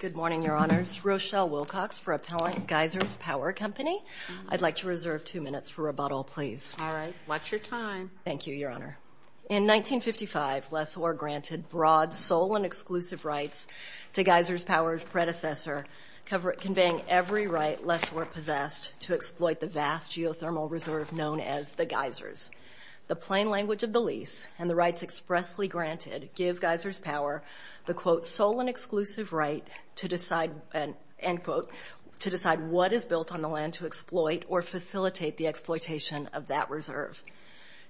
Good morning, Your Honors. Rochelle Wilcox for Appellant Geysers Power Company. I'd like to reserve two minutes for rebuttal, please. All right. Watch your time. Thank you, Your Honor. In 1955, Lessor granted broad sole and exclusive rights to Geysers Power's predecessor, conveying every right Lessor possessed to exploit the vast geothermal reserve known as the Geysers. The plain language of the lease and the rights expressly granted give Geysers Power the, quote, sole and exclusive right to decide, end quote, to decide what is built on the land to exploit or facilitate the exploitation of that reserve.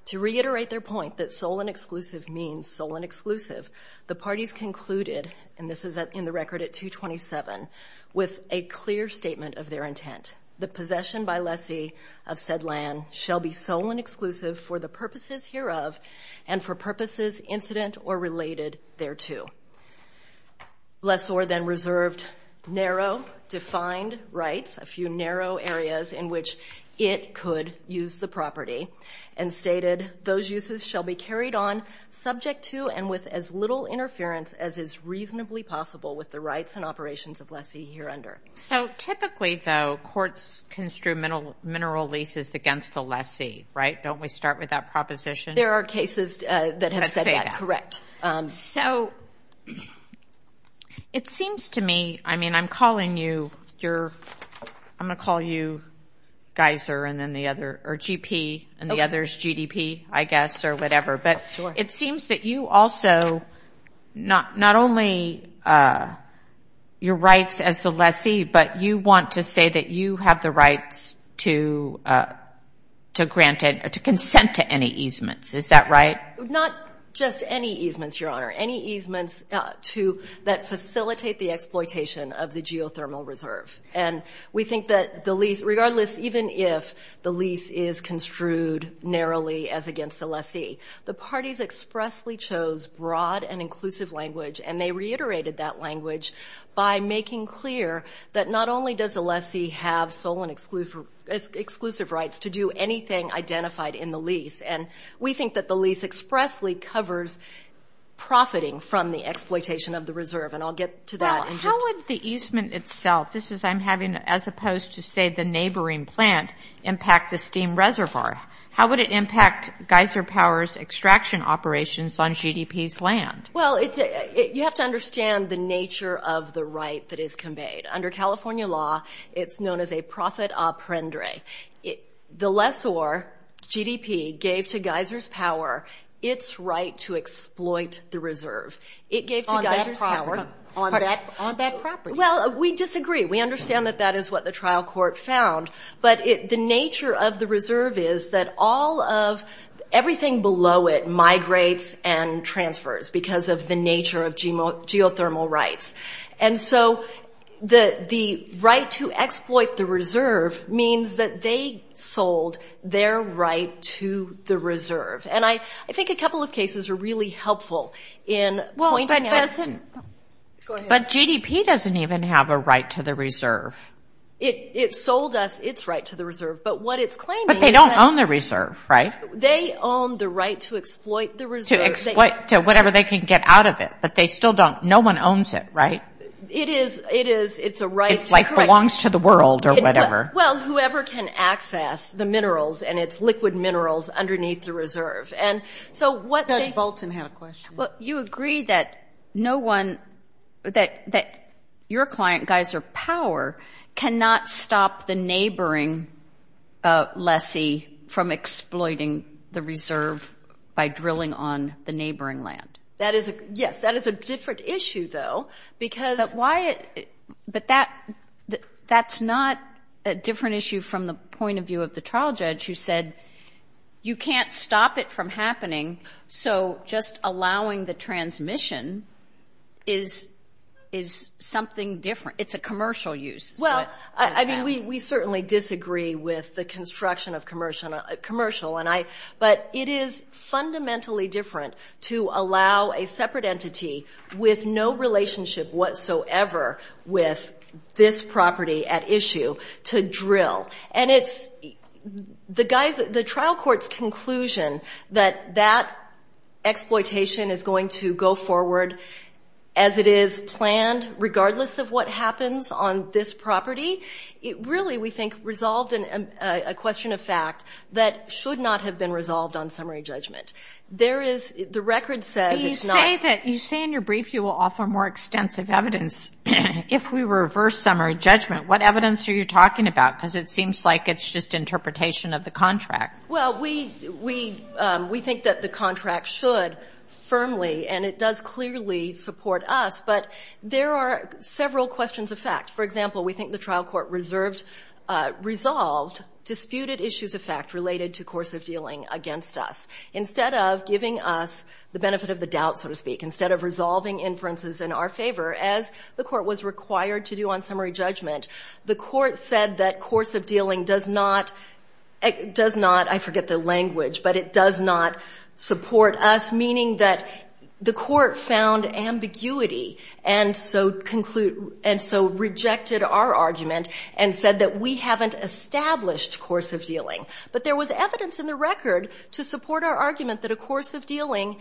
To reiterate their point that sole and exclusive means sole and exclusive, the parties concluded, and this is in the record at 227, with a clear statement of their intent. The possession by Lessie of said land shall be sole and exclusive for the purposes hereof and for purposes incident or related thereto. Lessor then reserved narrow defined rights, a few narrow areas in which it could use the property, and stated those uses shall be carried on subject to and with as little interference as is reasonably possible with the rights and operations of Lessie hereunder. So typically, though, courts construe mineral leases against the Lessie, right? Don't we start with that proposition? There are cases that have said that, correct. So it seems to me, I mean, I'm calling you your, I'm going to call you Geyser and then the other, or GP and the others GDP, I guess, or whatever. But it seems that you also, not only your rights as the Lessie, but you want to say that you have the rights to consent to any easements. Is that right? Not just any easements, Your Honor. Any easements that facilitate the exploitation of the geothermal reserve. And we think that the lease, regardless, even if the lease is construed narrowly as against the Lessie, the parties expressly chose broad and inclusive language, and they reiterated that language by making clear that not only does the Lessie have sole and exclusive rights to do anything identified in the lease, and we think that the lease expressly covers profiting from the exploitation of the reserve. And I'll get to that in just a moment. Well, how would the easement itself, this is I'm having as opposed to, say, the neighboring plant, impact the steam reservoir? How would it impact Geyser Power's extraction operations on GDP's land? Well, you have to understand the nature of the right that is conveyed. Under California law, it's known as a profit a prendre. The lessor, GDP, gave to Geyser's Power its right to exploit the reserve. It gave to Geyser's Power. On that property. Well, we disagree. We understand that that is what the trial court found. But the nature of the reserve is that all of everything below it migrates and transfers because of the nature of geothermal rights. And so the right to exploit the reserve means that they sold their right to the reserve. And I think a couple of cases are really helpful in pointing that out. But GDP doesn't even have a right to the reserve. It sold us its right to the reserve. But what it's claiming is that. But they don't own the reserve, right? They own the right to exploit the reserve. To exploit to whatever they can get out of it. But they still don't. No one owns it, right? It is. It's a right. It's like belongs to the world or whatever. Well, whoever can access the minerals and its liquid minerals underneath the reserve. And so what they. Judge Bolton had a question. Well, you agree that no one, that your client, Geyser Power, cannot stop the neighboring lessee from exploiting the reserve by drilling on the neighboring land. Yes, that is a different issue, though, because. But that's not a different issue from the point of view of the trial judge who said you can't stop it from happening. So just allowing the transmission is something different. It's a commercial use. Well, I mean, we certainly disagree with the construction of commercial. But it is fundamentally different to allow a separate entity with no relationship whatsoever with this property at issue to drill. And it's the trial court's conclusion that that exploitation is going to go forward as it is planned, regardless of what happens on this property. It really, we think, resolved a question of fact that should not have been resolved on summary judgment. There is. The record says it's not. You say in your brief you will offer more extensive evidence. If we reverse summary judgment, what evidence are you talking about? Because it seems like it's just interpretation of the contract. Well, we think that the contract should firmly. And it does clearly support us. But there are several questions of fact. For example, we think the trial court resolved disputed issues of fact related to course of dealing against us. Instead of giving us the benefit of the doubt, so to speak, instead of resolving inferences in our favor, as the court was required to do on summary judgment, the court said that course of dealing does not, I forget the language, but it does not support us, meaning that the court found ambiguity and so rejected our argument and said that we haven't established course of dealing. But there was evidence in the record to support our argument that a course of dealing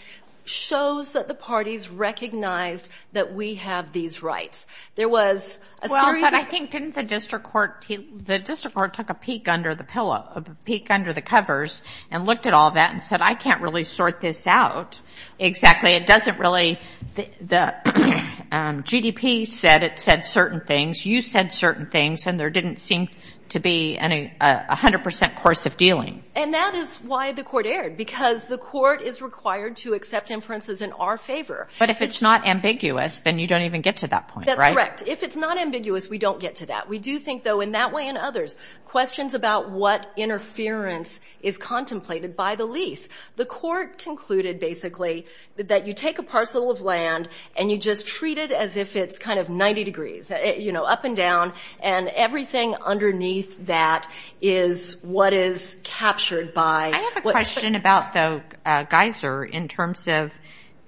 shows that the parties recognized that we have these rights. There was a series of. Well, but I think didn't the district court, the district court took a peek under the pillow, a peek under the covers and looked at all that and said, I can't really sort this out exactly. It doesn't really. The GDP said it said certain things. You said certain things. And there didn't seem to be a 100 percent course of dealing. And that is why the court erred, because the court is required to accept inferences in our favor. But if it's not ambiguous, then you don't even get to that point, right? That's correct. If it's not ambiguous, we don't get to that. We do think, though, in that way and others, questions about what interference is contemplated by the lease. The court concluded, basically, that you take a parcel of land and you just treat it as if it's kind of 90 degrees, you know, up and down, and everything underneath that is what is captured by. I have a question about the geyser in terms of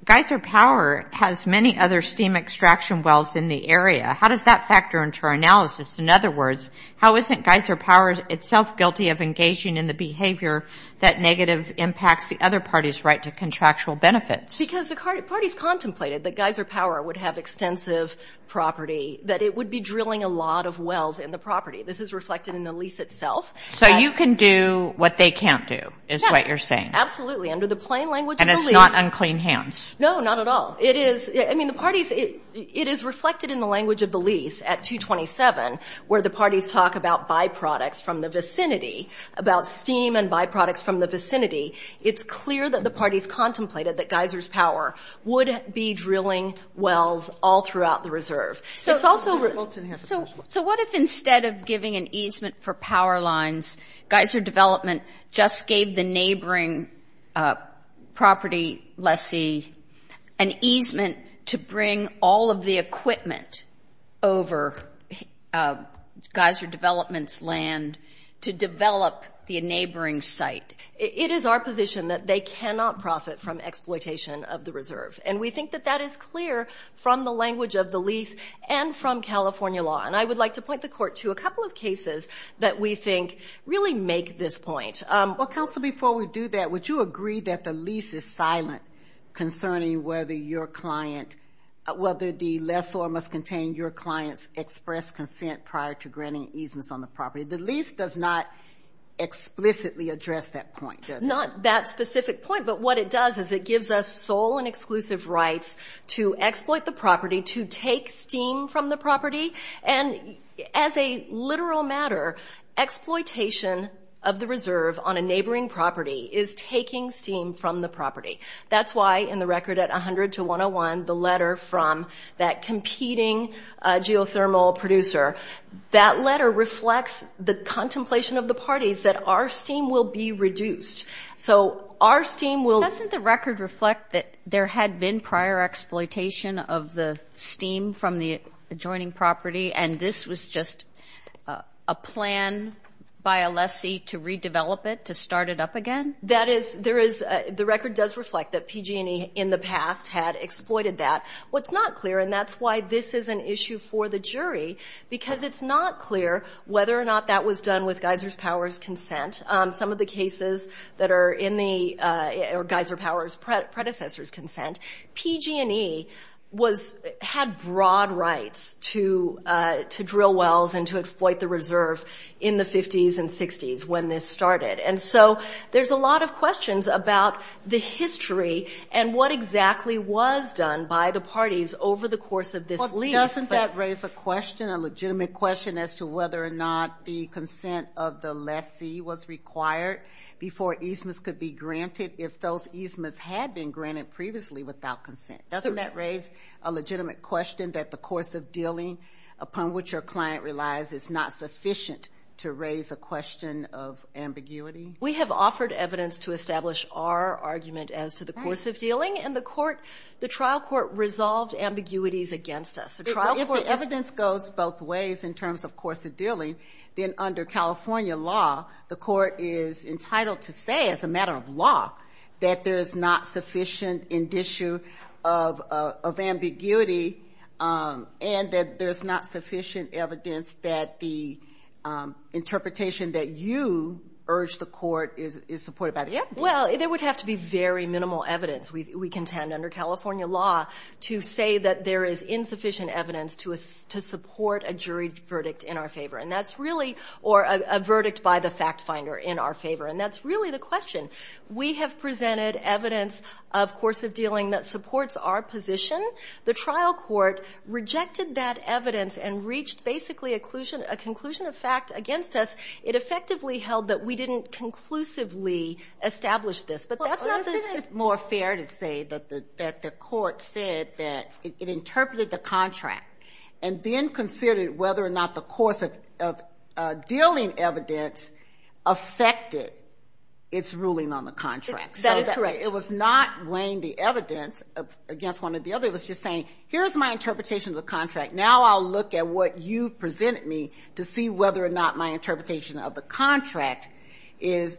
geyser power has many other steam extraction wells in the area. How does that factor into our analysis? In other words, how isn't geyser power itself guilty of engaging in the behavior that negative impacts the other party's right to contractual benefits? Because the parties contemplated that geyser power would have extensive property, that it would be drilling a lot of wells in the property. This is reflected in the lease itself. So you can do what they can't do, is what you're saying. Yes, absolutely. Under the plain language of the lease. And it's not unclean hands. No, not at all. It is reflected in the language of the lease at 227 where the parties talk about byproducts from the vicinity, about steam and byproducts from the vicinity. It's clear that the parties contemplated that geysers power would be drilling wells all throughout the reserve. So what if instead of giving an easement for power lines, geyser development just gave the neighboring property, let's see, an easement to bring all of the equipment over geyser development's land to develop the neighboring site? It is our position that they cannot profit from exploitation of the reserve. And we think that that is clear from the language of the lease and from California law. And I would like to point the Court to a couple of cases that we think really make this point. Well, Counsel, before we do that, would you agree that the lease is silent concerning whether your client, whether the lessor must contain your client's express consent prior to granting easements on the property? The lease does not explicitly address that point, does it? Not that specific point, but what it does is it gives us sole and exclusive rights to exploit the property, to take steam from the property, And as a literal matter, exploitation of the reserve on a neighboring property is taking steam from the property. That's why in the record at 100 to 101, the letter from that competing geothermal producer, that letter reflects the contemplation of the parties that our steam will be reduced. So our steam will – Doesn't the record reflect that there had been prior exploitation of the adjoining property, and this was just a plan by a lessee to redevelop it, to start it up again? That is – There is – The record does reflect that PG&E in the past had exploited that. What's not clear, and that's why this is an issue for the jury, because it's not clear whether or not that was done with Geyser Power's Some of the cases that are in the – or Geyser Power's predecessor's consent, PG&E had broad rights to drill wells and to exploit the reserve in the 50s and 60s when this started. And so there's a lot of questions about the history and what exactly was done by the parties over the course of this lease. Well, doesn't that raise a question, a legitimate question, as to whether or not the consent of the lessee was required before easements could be granted? If those easements had been granted previously without consent. Doesn't that raise a legitimate question that the course of dealing upon which your client relies is not sufficient to raise the question of ambiguity? We have offered evidence to establish our argument as to the course of dealing, and the trial court resolved ambiguities against us. If the evidence goes both ways in terms of course of dealing, then under California law, the court is entitled to say as a matter of law that there is not sufficient in this issue of ambiguity and that there's not sufficient evidence that the interpretation that you urge the court is supported by the evidence. Well, there would have to be very minimal evidence, we contend, under California law to say that there is insufficient evidence to support a jury verdict in our favor. Or a verdict by the fact finder in our favor. And that's really the question. We have presented evidence of course of dealing that supports our position. The trial court rejected that evidence and reached basically a conclusion of fact against us. It effectively held that we didn't conclusively establish this. Isn't it more fair to say that the court said that it interpreted the contract and then considered whether or not the course of dealing evidence affected its ruling on the contract. That is correct. It was not weighing the evidence against one or the other. It was just saying, here's my interpretation of the contract. Now I'll look at what you've presented me to see whether or not my interpretation of the contract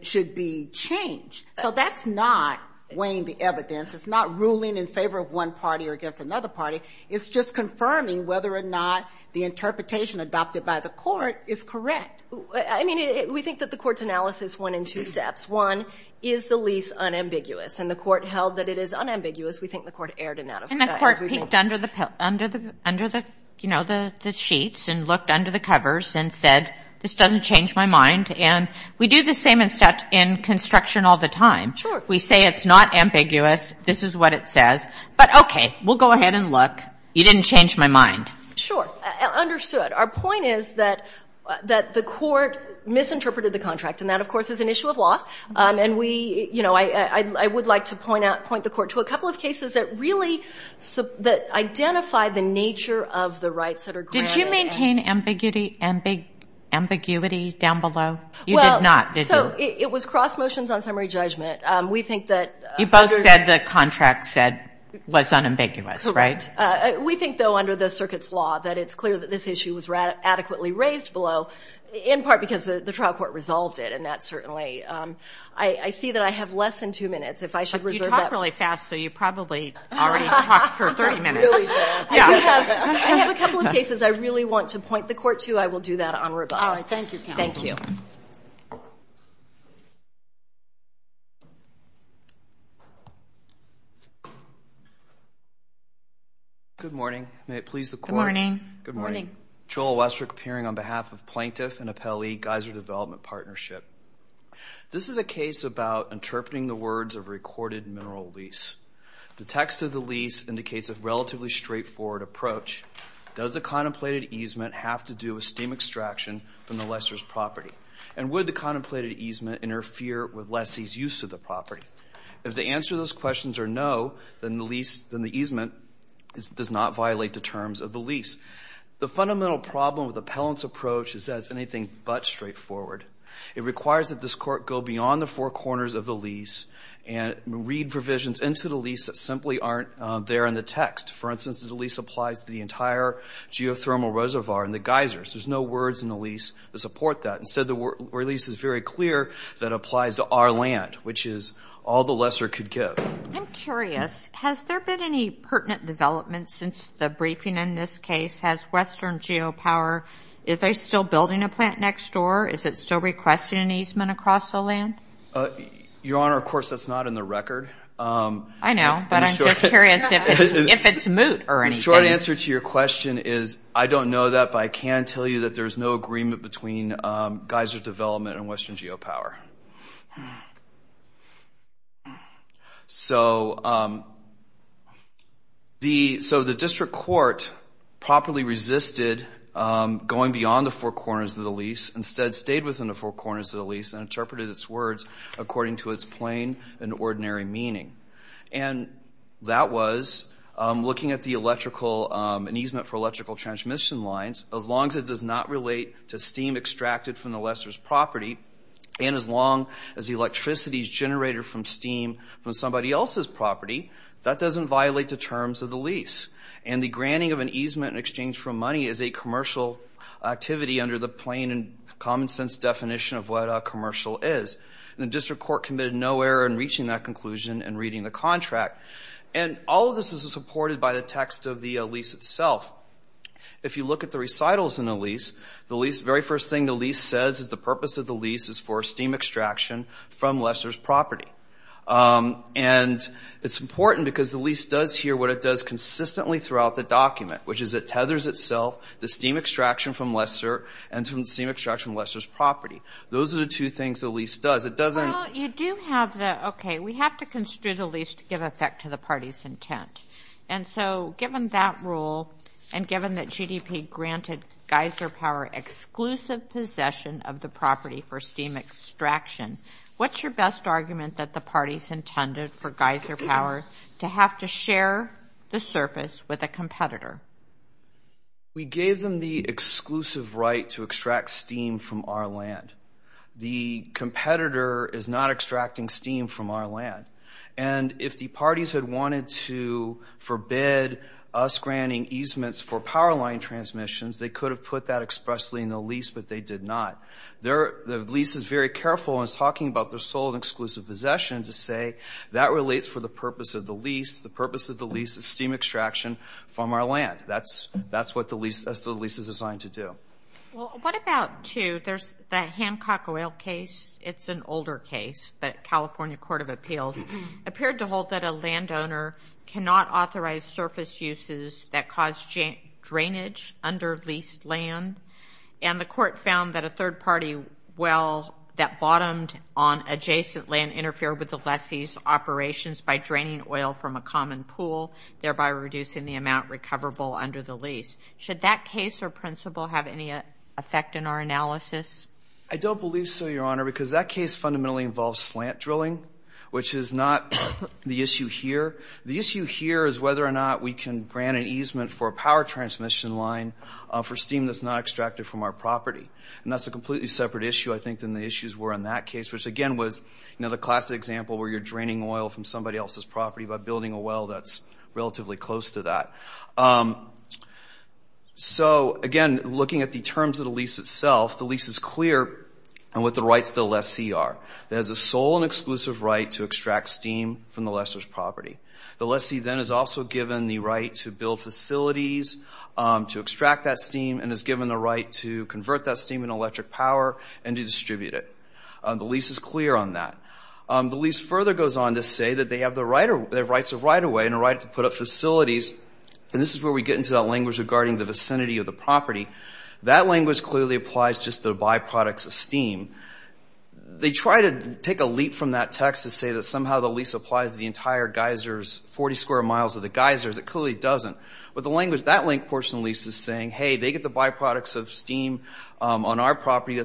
should be changed. So that's not weighing the evidence. It's not ruling in favor of one party or against another party. It's just confirming whether or not the interpretation adopted by the court is correct. I mean, we think that the court's analysis went in two steps. One is the lease unambiguous. And the court held that it is unambiguous. We think the court erred in that. And the court peeked under the sheets and looked under the covers and said, this doesn't change my mind. And we do the same in construction all the time. Sure. We say it's not ambiguous. This is what it says. But okay. We'll go ahead and look. You didn't change my mind. Sure. Understood. Our point is that the court misinterpreted the contract. And that, of course, is an issue of law. And we, you know, I would like to point out, point the court to a couple of cases that really, that identify the nature of the rights that are granted. Did you maintain ambiguity down below? You did not, did you? Well, so it was cross motions on summary judgment. We think that under the. The contract said was unambiguous, right? We think, though, under the circuit's law, that it's clear that this issue was adequately raised below, in part because the trial court resolved it. And that certainly, I see that I have less than two minutes. If I should reserve that. You talk really fast, so you probably already talked for 30 minutes. I have a couple of cases I really want to point the court to. I will do that on rebuttal. All right. Thank you, counsel. Thank you. Good morning. May it please the court. Good morning. Good morning. Joel Westrick, appearing on behalf of Plaintiff and Appellee Geyser Development Partnership. This is a case about interpreting the words of recorded mineral lease. The text of the lease indicates a relatively straightforward approach. Does the contemplated easement have to do with steam extraction from the lessor's property? And would the contemplated easement interfere with lessee's use of the property? If the answer to those questions are no, then the lease, then the easement does not violate the terms of the lease. The fundamental problem with appellant's approach is that it's anything but straightforward. It requires that this court go beyond the four corners of the lease and read provisions into the lease that simply aren't there in the text. For instance, the lease applies to the entire geothermal reservoir and the geysers. There's no words in the lease to support that. Instead, the lease is very clear that it applies to our land, which is all the lesser could give. I'm curious. Has there been any pertinent development since the briefing in this case? Has Western Geopower, is they still building a plant next door? Is it still requesting an easement across the land? Your Honor, of course, that's not in the record. I know, but I'm just curious if it's moot or anything. The short answer to your question is I don't know that, but I can tell you that there's no agreement between geyser development and Western Geopower. The district court properly resisted going beyond the four corners of the lease, instead stayed within the four corners of the lease and interpreted its words according to its plain and ordinary meaning. That was looking at an easement for electrical transmission lines. As long as it does not relate to steam extracted from the lessor's property and as long as the electricity is generated from steam from somebody else's property, that doesn't violate the terms of the lease. The granting of an easement in exchange for money is a commercial activity under the plain and common sense definition of what a commercial is. The district court committed no error in reaching that conclusion and reading the contract. All of this is supported by the text of the lease itself. If you look at the recitals in the lease, the very first thing the lease says is the purpose of the lease is for steam extraction from lessor's property. It's important because the lease does hear what it does consistently throughout the document, which is it tethers itself, the steam extraction from lessor, and the steam extraction from lessor's property. Those are the two things the lease does. Well, you do have the, okay, we have to construe the lease to give effect to the party's intent. And so given that rule and given that GDP granted Geyser Power exclusive possession of the property for steam extraction, what's your best argument that the parties intended for Geyser Power to have to share the surface with a competitor? We gave them the exclusive right to extract steam from our land. The competitor is not extracting steam from our land. And if the parties had wanted to forbid us granting easements for power line transmissions, they could have put that expressly in the lease, but they did not. The lease is very careful in talking about their sole and exclusive possession to say that relates for the purpose of the lease. The purpose of the lease is steam extraction from our land. That's what the lease is designed to do. Well, what about, too, there's the Hancock Oil case. It's an older case, but California Court of Appeals appeared to hold that a landowner cannot authorize surface uses that cause drainage under leased land. And the court found that a third party well that bottomed on adjacent land interfered with the lessee's operations by draining oil from a common pool, thereby reducing the amount recoverable under the lease. Should that case or principle have any effect in our analysis? I don't believe so, Your Honor, because that case fundamentally involves slant drilling, which is not the issue here. The issue here is whether or not we can grant an easement for a power transmission line for steam that's not extracted from our property. And that's a completely separate issue, I think, than the issues were in that case, which, again, was the classic example where you're draining oil from somebody else's property by building a well that's relatively close to that. So, again, looking at the terms of the lease itself, the lease is clear on what the rights to the lessee are. It has a sole and exclusive right to extract steam from the lessor's property. The lessee then is also given the right to build facilities to extract that steam and is given the right to convert that steam into electric power and to distribute it. The lease is clear on that. The lease further goes on to say that they have the rights of right-of-way and a right to put up facilities. And this is where we get into that language regarding the vicinity of the property. That language clearly applies just to the byproducts of steam. They try to take a leap from that text to say that somehow the lease applies to the entire geysers, 40 square miles of the geysers. It clearly doesn't. But that link portion of the lease is saying, hey, they get the byproducts of steam on our property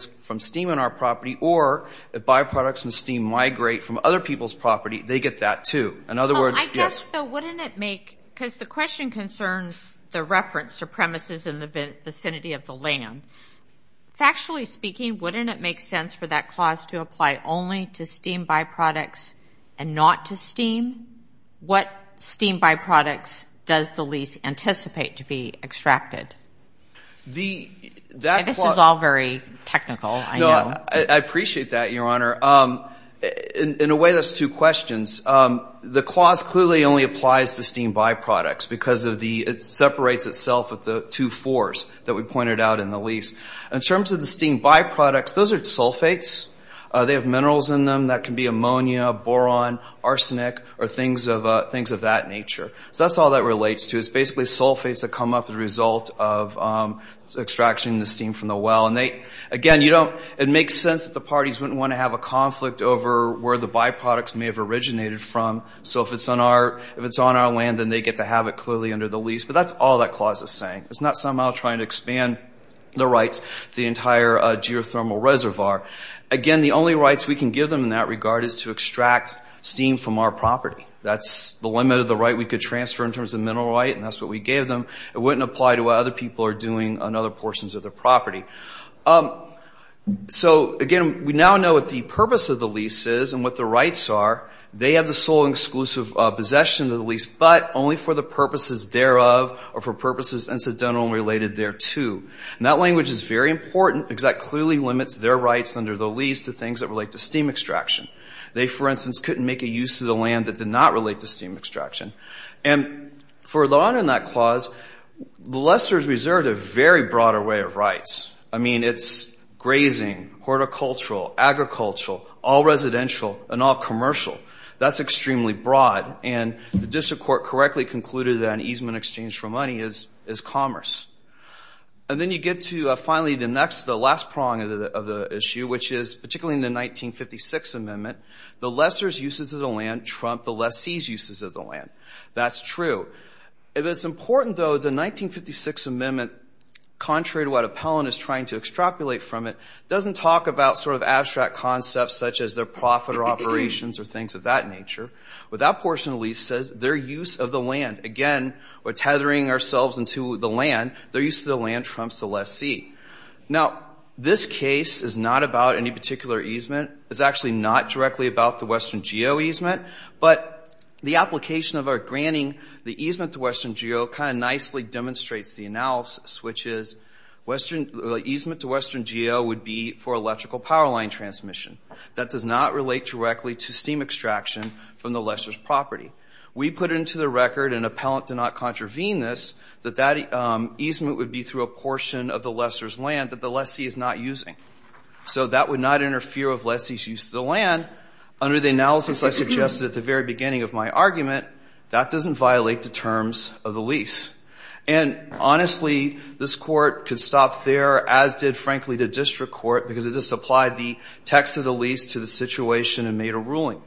or if byproducts of steam migrate from other people's property, they get that too. In other words, yes. I guess, though, wouldn't it make – because the question concerns the reference to premises in the vicinity of the land. Factually speaking, wouldn't it make sense for that clause to apply only to steam byproducts and not to steam? What steam byproducts does the lease anticipate to be extracted? This is all very technical, I know. No, I appreciate that, Your Honor. In a way, that's two questions. The clause clearly only applies to steam byproducts because of the – it separates itself with the two fours that we pointed out in the lease. In terms of the steam byproducts, those are sulfates. They have minerals in them that can be ammonia, boron, arsenic, or things of that nature. So that's all that relates to. It's basically sulfates that come up as a result of extraction of the steam from the well. Again, you don't – it makes sense that the parties wouldn't want to have a conflict over where the byproducts may have originated from. So if it's on our land, then they get to have it clearly under the lease. But that's all that clause is saying. It's not somehow trying to expand the rights to the entire geothermal reservoir. Again, the only rights we can give them in that regard is to extract steam from our property. That's the limit of the right we could transfer in terms of mineral right, and that's what we gave them. It wouldn't apply to what other people are doing on other portions of their property. So, again, we now know what the purpose of the lease is and what the rights are. They have the sole and exclusive possession of the lease, but only for the purposes thereof or for purposes incidental and related thereto. And that language is very important because that clearly limits their rights under the lease to things that relate to steam extraction. They, for instance, couldn't make a use of the land that did not relate to steam extraction. And for the honor in that clause, the lessors reserved a very broader way of rights. I mean, it's grazing, horticultural, agricultural, all residential, and all commercial. That's extremely broad, and the district court correctly concluded that an easement exchange for money is commerce. And then you get to finally the last prong of the issue, which is particularly in the 1956 Amendment, the lessor's uses of the land trump the lessee's uses of the land. That's true. It is important, though, that the 1956 Amendment, contrary to what Appellant is trying to extrapolate from it, doesn't talk about sort of abstract concepts such as their profit or operations or things of that nature. But that portion of the lease says their use of the land. Again, we're tethering ourselves into the land. Their use of the land trumps the lessee. Now, this case is not about any particular easement. It's actually not directly about the Western Geo easement. But the application of our granting the easement to Western Geo kind of nicely demonstrates the analysis, which is the easement to Western Geo would be for electrical power line transmission. That does not relate directly to steam extraction from the lessor's property. We put into the record, and Appellant did not contravene this, that that easement would be through a portion of the lessor's land that the lessee is not using. So that would not interfere with lessee's use of the land. Under the analysis I suggested at the very beginning of my argument, that doesn't violate the terms of the lease. And honestly, this Court could stop there, as did, frankly, the district court, because it just applied the text of the lease to the situation and made a ruling.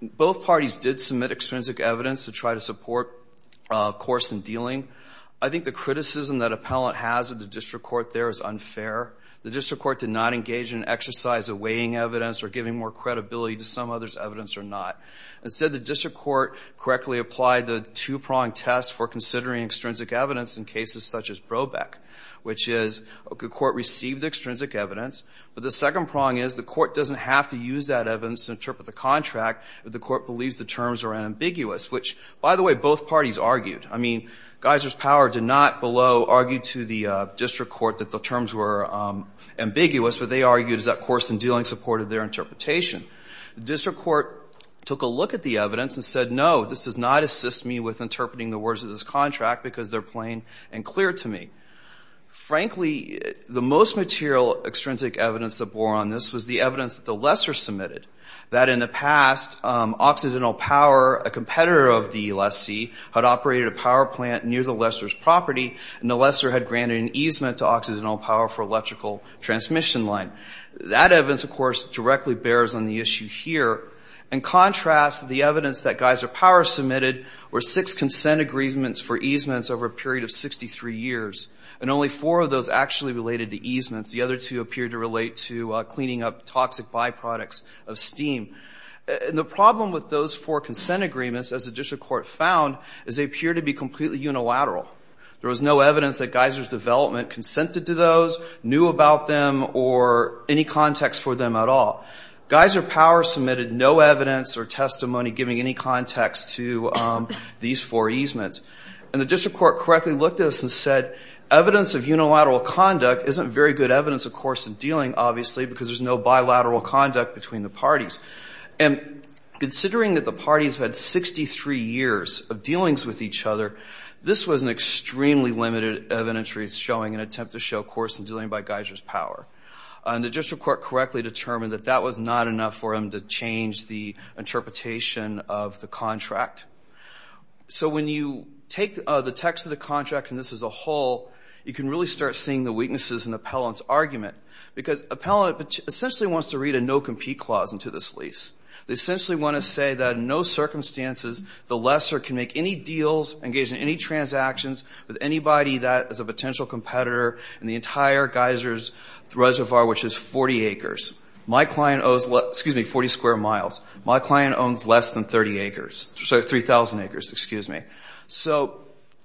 Both parties did submit extrinsic evidence to try to support a course in dealing. I think the criticism that Appellant has of the district court there is unfair. The district court did not engage in an exercise of weighing evidence or giving more credibility to some other's evidence or not. Instead, the district court correctly applied the two-prong test for considering extrinsic evidence in cases such as Brobeck, which is the court received extrinsic evidence, but the second prong is the court doesn't have to use that evidence to interpret the contract if the court believes the terms are ambiguous, which, by the way, both parties argued. I mean, Geiser's Power did not below argue to the district court that the terms were ambiguous, but they argued that that course in dealing supported their interpretation. The district court took a look at the evidence and said, no, this does not assist me with interpreting the words of this contract because they're plain and clear to me. Frankly, the most material extrinsic evidence that bore on this was the evidence that the lessor submitted, that in the past, Occidental Power, a competitor of the lessee, had operated a power plant near the lessor's property and the lessor had granted an easement to Occidental Power for electrical transmission line. That evidence, of course, directly bears on the issue here. In contrast, the evidence that Geiser Power submitted were six consent agreements for easements over a period of 63 years, and only four of those actually related to easements. The other two appear to relate to cleaning up toxic byproducts of steam. And the problem with those four consent agreements, as the district court found, is they appear to be completely unilateral. There was no evidence that Geiser's development consented to those, knew about them, or any context for them at all. Geiser Power submitted no evidence or testimony giving any context to these four easements. And the district court correctly looked at this and said, evidence of unilateral conduct isn't very good evidence, of course, of dealing, obviously, because there's no bilateral conduct between the parties. And considering that the parties had 63 years of dealings with each other, this was an extremely limited evidence showing an attempt to show coercion dealing by Geiser's power. And the district court correctly determined that that was not enough for them to change the interpretation of the contract. So when you take the text of the contract and this as a whole, you can really start seeing the weaknesses in Appellant's argument because Appellant essentially wants to read a no-compete clause into this lease. They essentially want to say that in no circumstances the lessor can make any deals, engage in any transactions, with anybody that is a potential competitor in the entire Geiser's reservoir, which is 40 acres. My client owns, excuse me, 40 square miles. My client owns less than 30 acres. Sorry, 3,000 acres, excuse me. So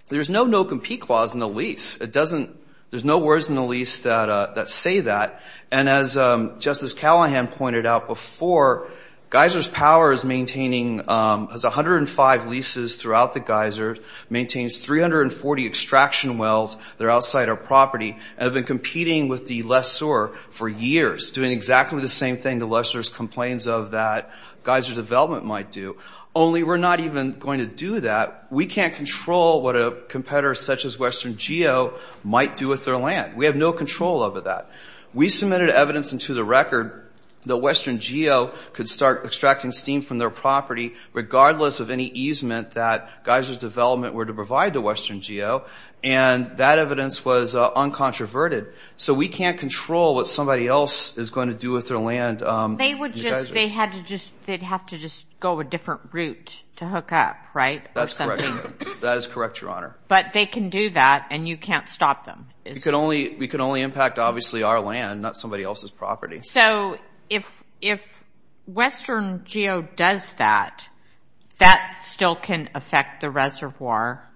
there's no no-compete clause in the lease. There's no words in the lease that say that. And as Justice Callahan pointed out before, Geiser's power is maintaining 105 leases throughout the Geiser, maintains 340 extraction wells that are outside our property, and have been competing with the lessor for years, doing exactly the same thing. The lessor complains of that Geiser's development might do, only we're not even going to do that. We can't control what a competitor such as Western Geo might do with their land. We have no control over that. We submitted evidence into the record that Western Geo could start extracting steam from their property regardless of any easement that Geiser's development were to provide to Western Geo, and that evidence was uncontroverted. So we can't control what somebody else is going to do with their land. They'd have to just go a different route to hook up, right? That is correct, Your Honor. But they can do that, and you can't stop them. We can only impact, obviously, our land, not somebody else's property. So if Western Geo does that, that still can affect the reservoir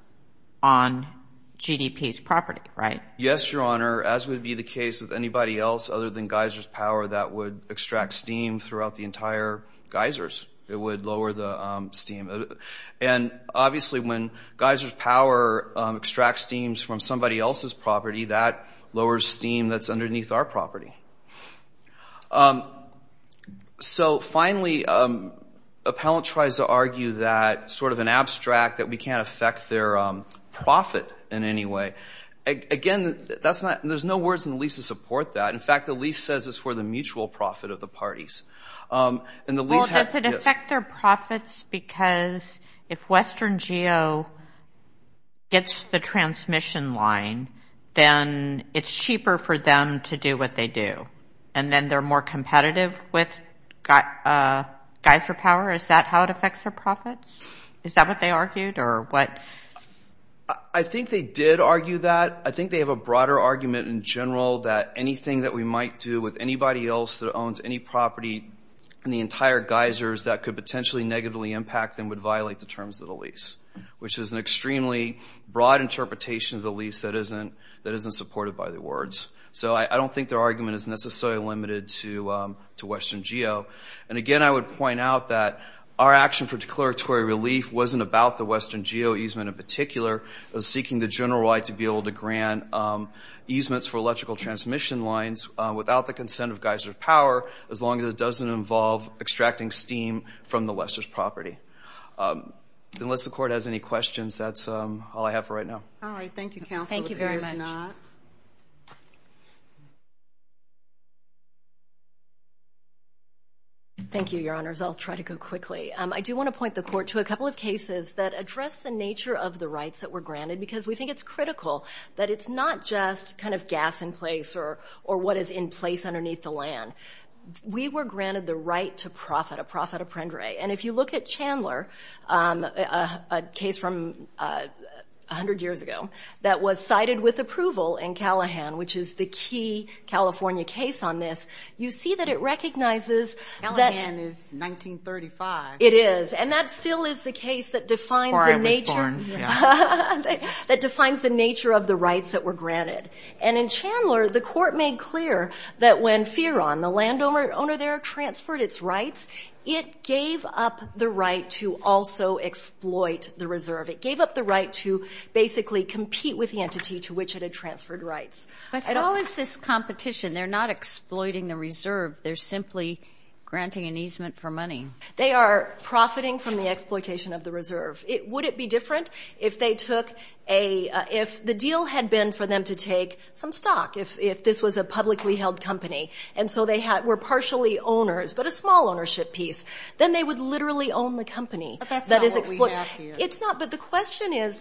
on GDP's property, right? Yes, Your Honor, as would be the case with anybody else other than Geiser's Power that would extract steam throughout the entire Geiser's. It would lower the steam. And obviously when Geiser's Power extracts steams from somebody else's property, that lowers steam that's underneath our property. So finally, Appellant tries to argue that sort of an abstract, that we can't affect their profit in any way. Again, there's no words in the lease to support that. In fact, the lease says it's for the mutual profit of the parties. Well, does it affect their profits? Because if Western Geo gets the transmission line, then it's cheaper for them to do what they do, and then they're more competitive with Geiser Power. Is that how it affects their profits? Is that what they argued, or what? I think they did argue that. I think they have a broader argument in general that anything that we might do with anybody else that owns any property in the entire Geiser's that could potentially negatively impact and would violate the terms of the lease, which is an extremely broad interpretation of the lease that isn't supported by the words. So I don't think their argument is necessarily limited to Western Geo. And again, I would point out that our action for declaratory relief wasn't about the Western Geo easement in particular. It was seeking the general right to be able to grant easements for electrical transmission lines without the consent of Geiser Power, as long as it doesn't involve extracting steam from the Western's property. Unless the Court has any questions, that's all I have for right now. All right. Thank you, Counsel. Thank you very much. Thank you, Your Honors. I'll try to go quickly. I do want to point the Court to a couple of cases that address the nature of the rights that were granted because we think it's critical that it's not just kind of gas in place or what is in place underneath the land. We were granted the right to profit, a profit a prendere. And if you look at Chandler, a case from 100 years ago, that was cited with approval in Callahan, which is the key California case on this, you see that it recognizes that. Callahan is 1935. It is, and that still is the case that defines the nature. Before I was born, yeah. That defines the nature of the rights that were granted. And in Chandler, the Court made clear that when Fearon, the landowner there, transferred its rights, it gave up the right to also exploit the reserve. It gave up the right to basically compete with the entity to which it had transferred rights. But at all is this competition. They're not exploiting the reserve. They're simply granting an easement for money. They are profiting from the exploitation of the reserve. Would it be different if they took a, if the deal had been for them to take some stock, if this was a publicly held company, and so they were partially owners but a small ownership piece, then they would literally own the company. But that's not what we have here. It's not. But the question is,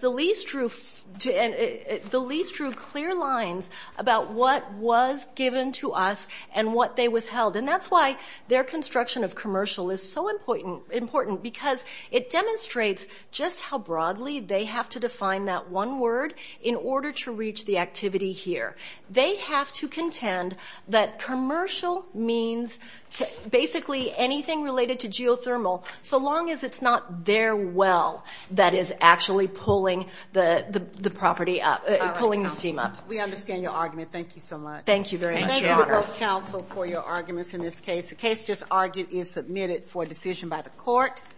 the lease drew clear lines about what was given to us and what they withheld. And that's why their construction of commercial is so important because it demonstrates just how broadly they have to define that one word in order to reach the activity here. They have to contend that commercial means basically anything related to geothermal, so long as it's not their well that is actually pulling the property up, pulling the steam up. We understand your argument. Thank you so much. Thank you very much, Your Honor. Thank you to both counsel for your arguments in this case. The case just argued is submitted for decision by the court.